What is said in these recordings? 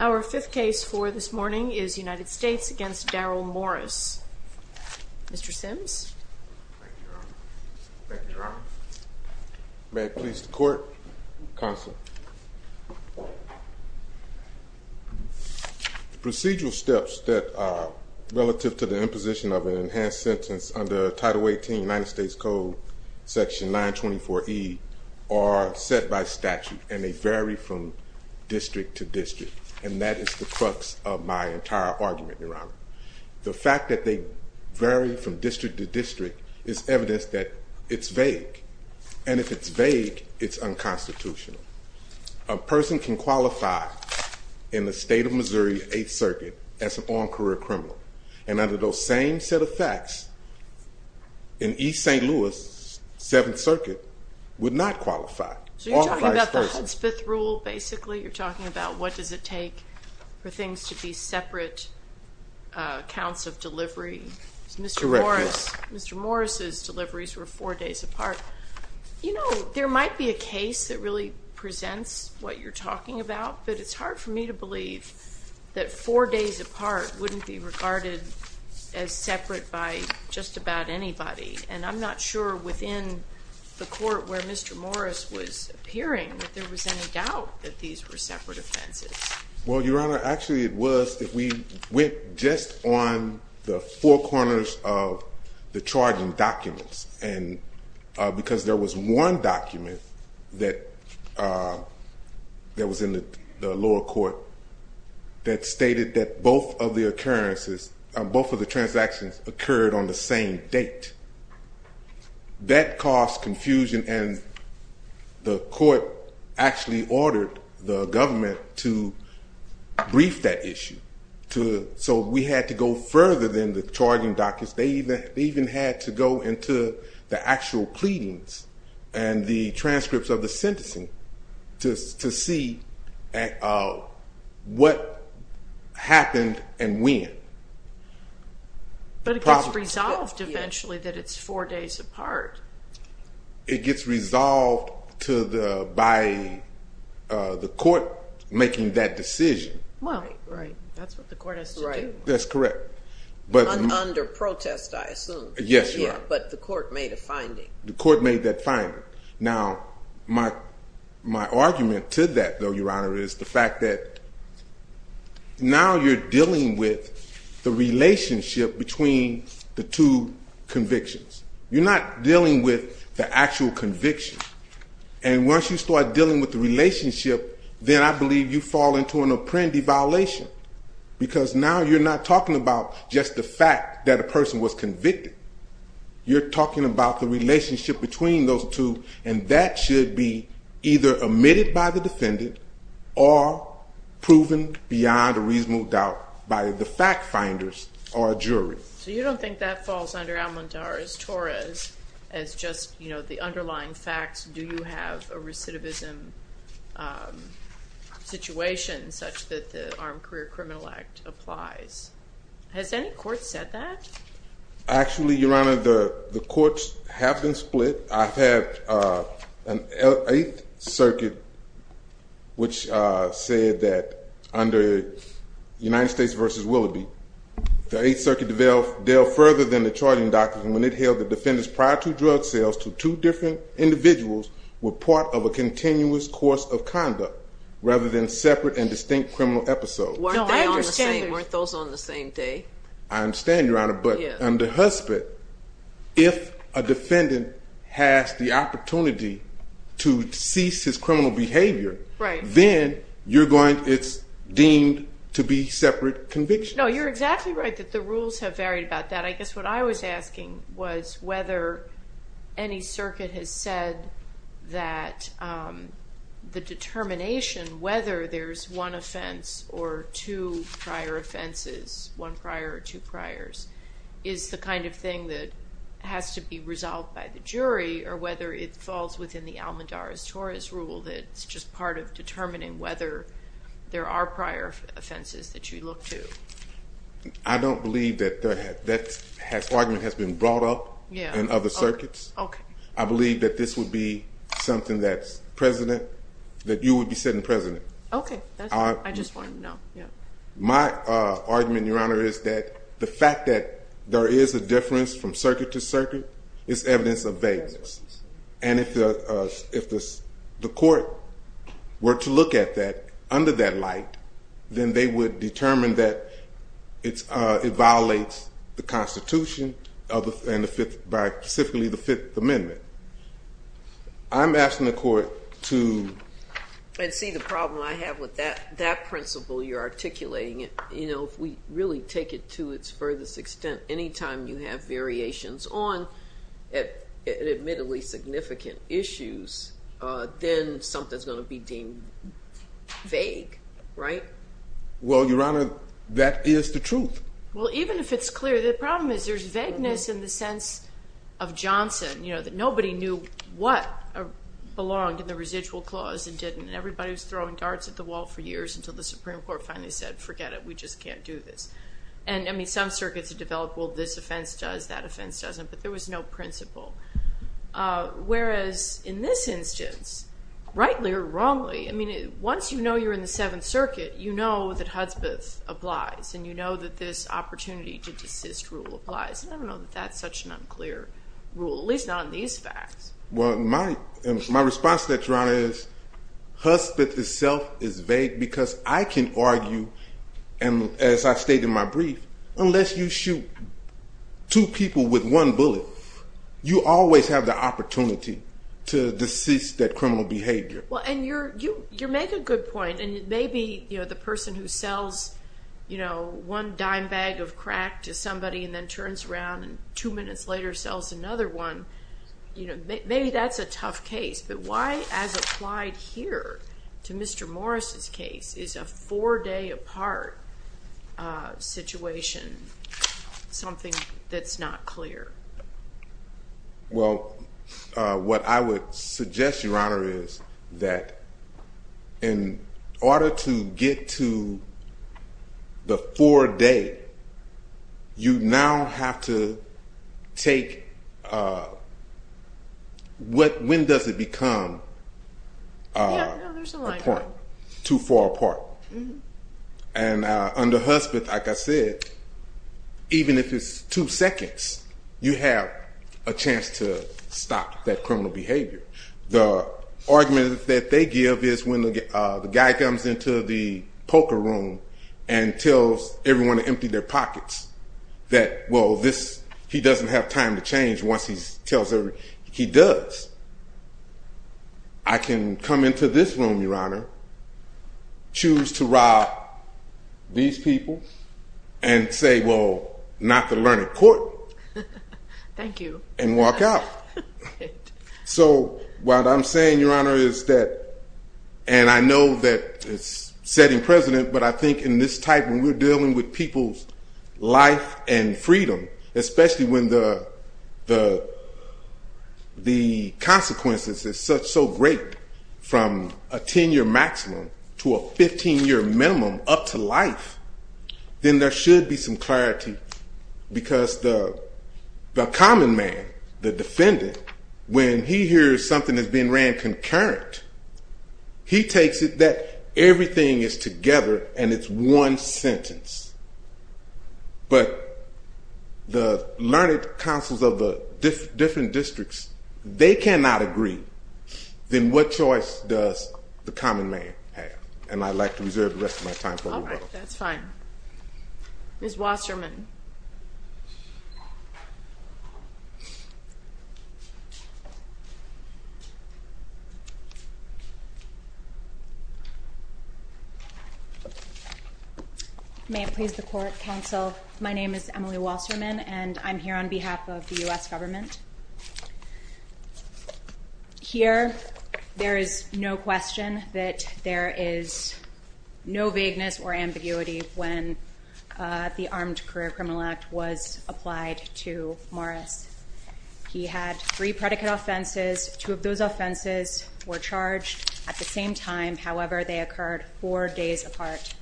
Our fifth case for this morning is United States v. Darral Morris. Mr. Sims? Thank you, Your Honor. May it please the Court? Counsel. The procedural steps that are relative to the imposition of an enhanced sentence under Title 18 of the United States Code, Section 924E, are set by statute, and they vary from district to district, and that is the crux of my entire argument, Your Honor. The fact that they vary from district to district is evidence that it's vague, and if it's vague, it's unconstitutional. A person can qualify in the state of Missouri, Eighth Circuit, as an armed career criminal, and under those same set of facts, in East St. Louis, Seventh Circuit, would not qualify. So you're talking about the Hudspeth Rule, basically? You're talking about what does it take for things to be separate counts of delivery? Correct, Your Honor. Mr. Morris's deliveries were four days apart. You know, there might be a case that really presents what you're talking about, but it's hard for me to believe that four days apart wouldn't be regarded as separate by just about anybody. And I'm not sure within the court where Mr. Morris was appearing that there was any doubt that these were separate offenses. Well, Your Honor, actually it was that we went just on the four corners of the charging documents, because there was one document that was in the lower court that stated that both of the transactions occurred on the same date. That caused confusion, and the court actually ordered the government to brief that issue. So we had to go further than the charging documents. They even had to go into the actual pleadings and the transcripts of the sentencing to see what happened and when. But it gets resolved eventually that it's four days apart. It gets resolved by the court making that decision. Right, that's what the court has to do. That's correct. Under protest, I assume. But the court made a finding. The court made that finding. Now, my argument to that, though, Your Honor, is the fact that now you're dealing with the relationship between the two convictions. You're not dealing with the actual conviction. And once you start dealing with the relationship, then I believe you fall into an apprendi violation, because now you're not talking about just the fact that a person was convicted. You're talking about the relationship between those two, and that should be either omitted by the defendant or proven beyond a reasonable doubt by the fact-finders or a jury. So you don't think that falls under almondares torres as just the underlying facts? Do you have a recidivism situation such that the Armed Career Criminal Act applies? Has any court said that? Actually, Your Honor, the courts have been split. I've had an Eighth Circuit which said that under United States v. Willoughby, the Eighth Circuit dealt further than the charging document. It held that defendants prior to drug sales to two different individuals were part of a continuous course of conduct rather than separate and distinct criminal episodes. No, I understand. Weren't those on the same day? I understand, Your Honor, but under HUSPIT, if a defendant has the opportunity to cease his criminal behavior, then it's deemed to be separate convictions. No, you're exactly right that the rules have varied about that. But I guess what I was asking was whether any circuit has said that the determination whether there's one offense or two prior offenses, one prior or two priors, is the kind of thing that has to be resolved by the jury or whether it falls within the almandares torres rule that it's just part of determining whether there are prior offenses that you look to. I don't believe that that argument has been brought up in other circuits. I believe that this would be something that you would be sitting president. Okay, I just wanted to know. My argument, Your Honor, is that the fact that there is a difference from circuit to circuit is evidence of vagueness. And if the court were to look at that under that light, then they would determine that it violates the Constitution and specifically the Fifth Amendment. I'm asking the court to... I see the problem I have with that principle you're articulating. If we really take it to its furthest extent, any time you have variations on admittedly significant issues, then something's going to be deemed vague, right? Well, Your Honor, that is the truth. Well, even if it's clear, the problem is there's vagueness in the sense of Johnson, that nobody knew what belonged in the residual clause and didn't. And everybody was throwing darts at the wall for years until the Supreme Court finally said, forget it, we just can't do this. And, I mean, some circuits have developed, well, this offense does, that offense doesn't. But there was no principle. Whereas in this instance, rightly or wrongly, I mean, once you know you're in the Seventh Circuit, you know that Hudsbeth applies. And you know that this opportunity to desist rule applies. And I don't know that that's such an unclear rule, at least not in these facts. Well, my response to that, Your Honor, is Hudsbeth itself is vague because I can argue, as I stated in my brief, unless you shoot two people with one bullet, you always have the opportunity to desist that criminal behavior. Well, and you make a good point. And maybe, you know, the person who sells, you know, one dime bag of crack to somebody and then turns around and two minutes later sells another one, you know, maybe that's a tough case. But why, as applied here to Mr. Morris' case, is a four-day apart situation something that's not clear? Well, what I would suggest, Your Honor, is that in order to get to the four-day, you now have to take – when does it become too far apart? And under Hudsbeth, like I said, even if it's two seconds, you have a chance to stop that criminal behavior. The argument that they give is when the guy comes into the poker room and tells everyone to empty their pockets, that, well, this – he doesn't have time to change once he tells everyone – he does. I can come into this room, Your Honor, choose to rob these people, and say, well, not to learn in court. Thank you. And walk out. So what I'm saying, Your Honor, is that – and I know that it's setting precedent, but I think in this type when we're dealing with people's life and freedom, especially when the consequences is so great from a 10-year maximum to a 15-year minimum up to life, then there should be some clarity. Because the common man, the defendant, when he hears something that's being ran concurrent, he takes it that everything is together and it's one sentence. But the learned counsels of the different districts, they cannot agree. Then what choice does the common man have? And I'd like to reserve the rest of my time for a little while. All right. That's fine. Ms. Wasserman. May it please the court, counsel. My name is Emily Wasserman, and I'm here on behalf of the U.S. government. Here, there is no question that there is no vagueness or ambiguity when the Armed Career Criminal Act was applied to Morris. He had three predicate offenses. Two of those offenses were charged at the same time. However, they occurred four days apart.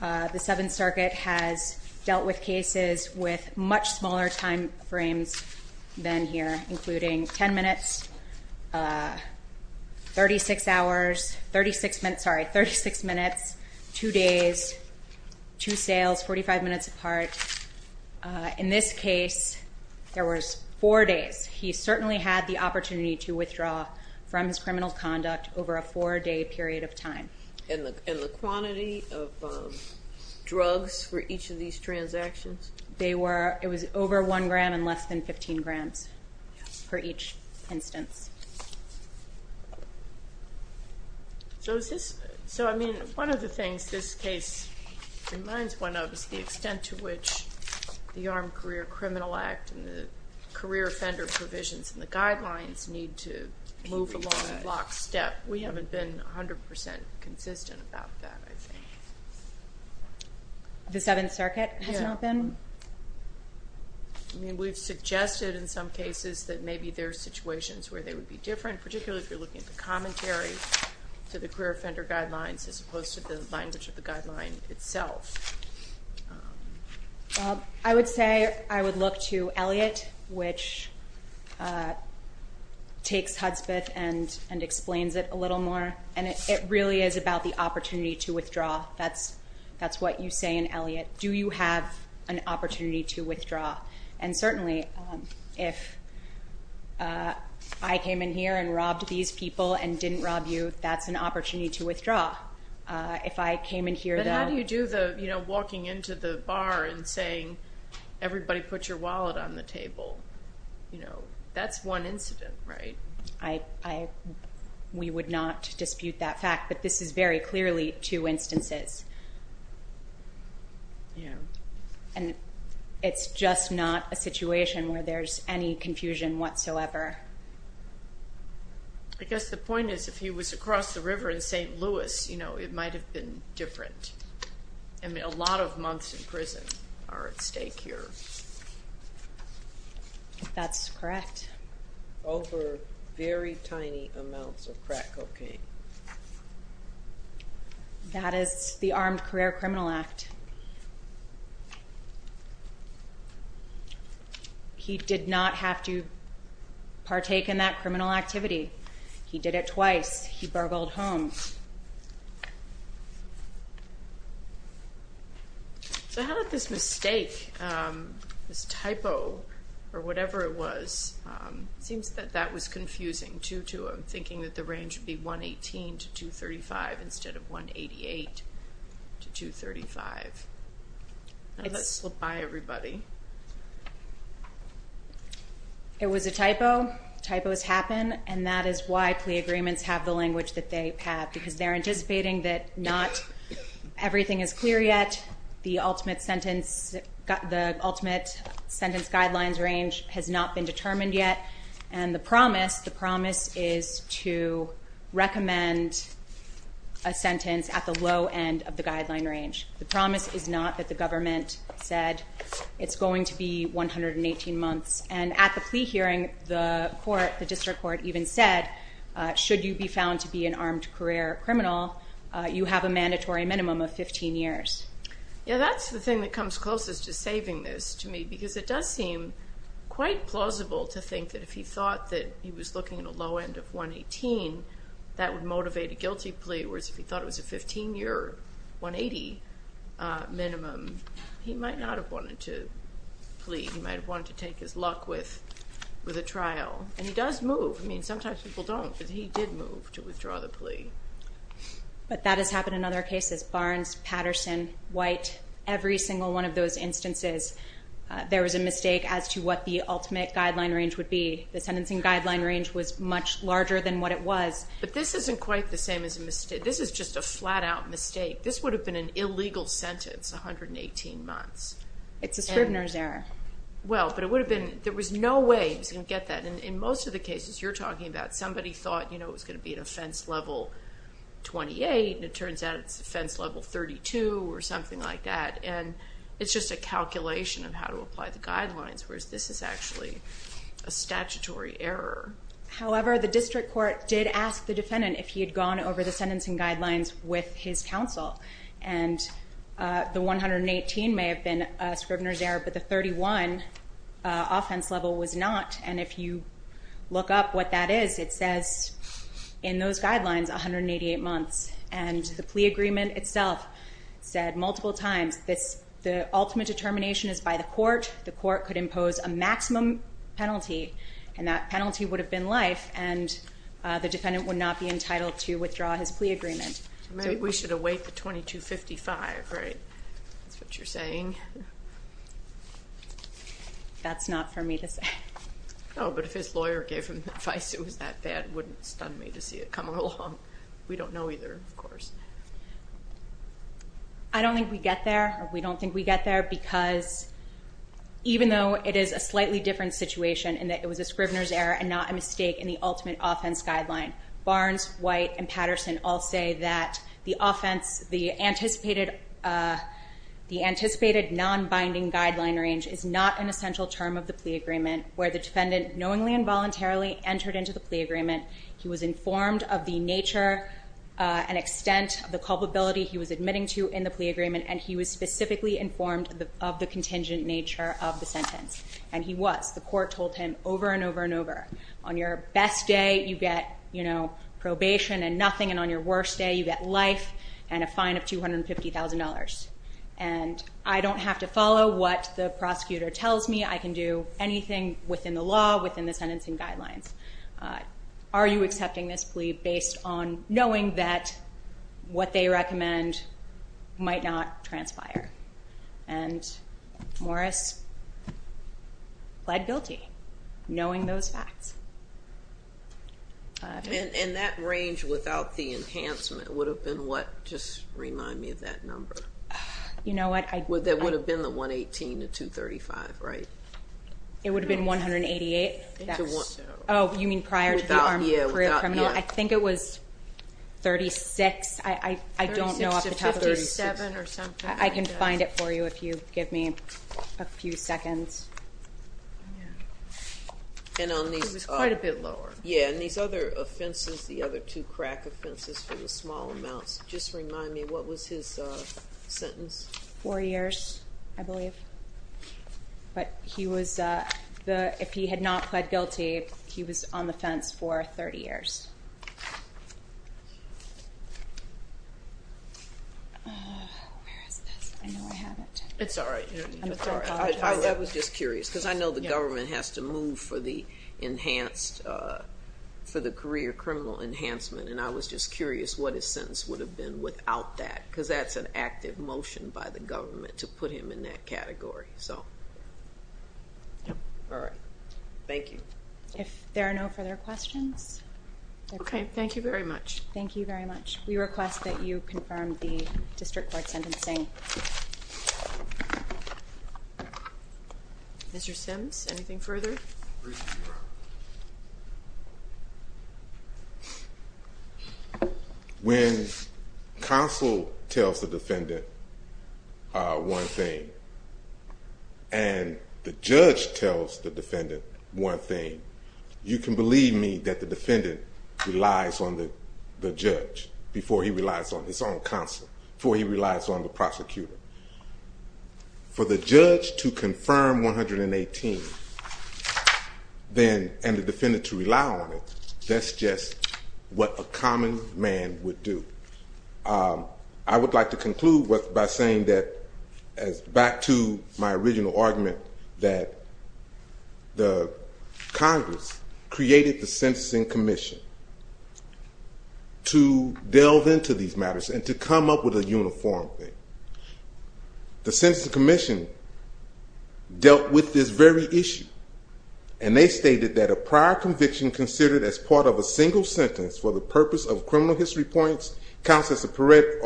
The Seventh Circuit has dealt with cases with much smaller time frames than here, including 10 minutes, 36 hours, 36 minutes, two days, two sales, 45 minutes apart. In this case, there was four days. He certainly had the opportunity to withdraw from his criminal conduct over a four-day period of time. And the quantity of drugs for each of these transactions? It was over one gram and less than 15 grams for each instance. So, I mean, one of the things this case reminds one of is the extent to which the Armed Career Criminal Act and the career offender provisions and the guidelines need to move along in lockstep. We haven't been 100% consistent about that, I think. The Seventh Circuit has not been? I mean, we've suggested in some cases that maybe there are situations where they would be different, particularly if you're looking at the commentary to the career offender guidelines as opposed to the language of the guideline itself. I would say I would look to Elliot, which takes Hudspeth and explains it a little more. And it really is about the opportunity to withdraw. That's what you say in Elliot. Do you have an opportunity to withdraw? And certainly, if I came in here and robbed these people and didn't rob you, that's an opportunity to withdraw. But how do you do the walking into the bar and saying, everybody put your wallet on the table? That's one incident, right? We would not dispute that fact, but this is very clearly two instances. And it's just not a situation where there's any confusion whatsoever. I guess the point is, if he was across the river in St. Louis, it might have been different. I mean, a lot of months in prison are at stake here. That's correct. Over very tiny amounts of crack cocaine. That is the Armed Career Criminal Act. He did not have to partake in that criminal activity. He did it twice. He burgled home. So how about this mistake, this typo, or whatever it was? It seems that that was confusing, too, to him, thinking that the range would be 118 to 235 instead of 188 to 235. Let's look by everybody. It was a typo. Typos happen, and that is why plea agreements have the language that they have, because they're anticipating that not everything is clear yet, the ultimate sentence guidelines range has not been determined yet, and the promise is to recommend a sentence at the low end of the guideline range. The promise is not that the government said it's going to be 118 months. And at the plea hearing, the court, the district court even said, should you be found to be an armed career criminal, you have a mandatory minimum of 15 years. Yeah, that's the thing that comes closest to saving this to me, because it does seem quite plausible to think that if he thought that he was looking at a low end of 118, that would motivate a guilty plea, whereas if he thought it was a 15-year, 180 minimum, he might not have wanted to plea. He might have wanted to take his luck with a trial. And he does move. I mean, sometimes people don't, but he did move to withdraw the plea. But that has happened in other cases. Barnes, Patterson, White, every single one of those instances, there was a mistake as to what the ultimate guideline range would be. The sentencing guideline range was much larger than what it was. But this isn't quite the same as a mistake. This is just a flat-out mistake. This would have been an illegal sentence, 118 months. It's a Scribner's error. Well, but it would have been, there was no way he was going to get that. In most of the cases you're talking about, somebody thought, you know, it was going to be an offense level 28, and it turns out it's offense level 32 or something like that. And it's just a calculation of how to apply the guidelines, whereas this is actually a statutory error. However, the district court did ask the defendant if he had gone over the sentencing guidelines with his counsel. And the 118 may have been a Scribner's error, but the 31 offense level was not. And if you look up what that is, it says in those guidelines, 188 months. And the plea agreement itself said multiple times, the ultimate determination is by the court. The court could impose a maximum penalty, and that penalty would have been life, and the defendant would not be entitled to withdraw his plea agreement. We should await the 2255, right? That's what you're saying? That's not for me to say. Oh, but if his lawyer gave him advice it was that bad, it wouldn't stun me to see it come along. We don't know either, of course. I don't think we get there, or we don't think we get there, because even though it is a slightly different situation in that it was a Scribner's error and not a mistake in the ultimate offense guideline, Barnes, White, and Patterson all say that the offense, the anticipated non-binding guideline range is not an essential term of the plea agreement, where the defendant knowingly and voluntarily entered into the plea agreement. He was informed of the nature and extent of the culpability he was admitting to in the plea agreement, and he was specifically informed of the contingent nature of the sentence. And he was. The court told him over and over and over, on your best day you get probation and nothing, and on your worst day you get life and a fine of $250,000. And I don't have to follow what the prosecutor tells me. I can do anything within the law, within the sentencing guidelines. Are you accepting this plea based on knowing that what they recommend might not transpire? And Morris pled guilty, knowing those facts. And that range without the enhancement would have been what? Just remind me of that number. You know what? That would have been the 118 to 235, right? It would have been 188. Oh, you mean prior to the armed career criminal? I think it was 36. I don't know off the top of my head. I can find it for you if you give me a few seconds. It was quite a bit lower. Yeah, and these other offenses, the other two crack offenses for the small amounts, just remind me, what was his sentence? Four years, I believe. But if he had not pled guilty, he was on the fence for 30 years. Where is this? I know I have it. It's all right. I'm sorry. I was just curious because I know the government has to move for the enhanced, for the career criminal enhancement, and I was just curious what his sentence would have been without that because that's an active motion by the government to put him in that category. All right. Thank you. If there are no further questions. Okay, thank you very much. Thank you very much. We request that you confirm the district court sentencing. Mr. Sims, anything further? When counsel tells the defendant one thing and the judge tells the defendant one thing, you can believe me that the defendant relies on the judge before he relies on his own counsel, before he relies on the prosecutor. For the judge to confirm 118 and the defendant to rely on it, that's just what a common man would do. I would like to conclude by saying that, back to my original argument, that Congress created the Sentencing Commission to delve into these matters and to come up with a uniform thing. The Sentencing Commission dealt with this very issue, and they stated that a prior conviction considered as part of a single sentence for the purpose of criminal history points counts as predicate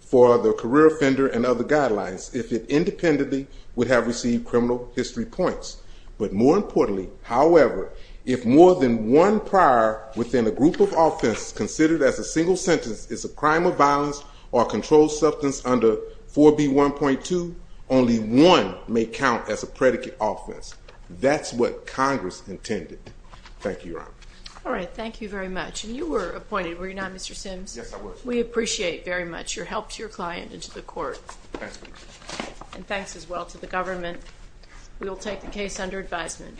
for the career offender and other guidelines if it independently would have received criminal history points. But more importantly, however, if more than one prior within a group of offenses considered as a single sentence is a crime of violence or a controlled substance under 4B1.2, only one may count as a predicate offense. That's what Congress intended. Thank you, Your Honor. All right, thank you very much. And you were appointed, were you not, Mr. Sims? Yes, I was. We appreciate very much your help to your client and to the court. Thank you. And thanks as well to the government. We will take the case under advisement.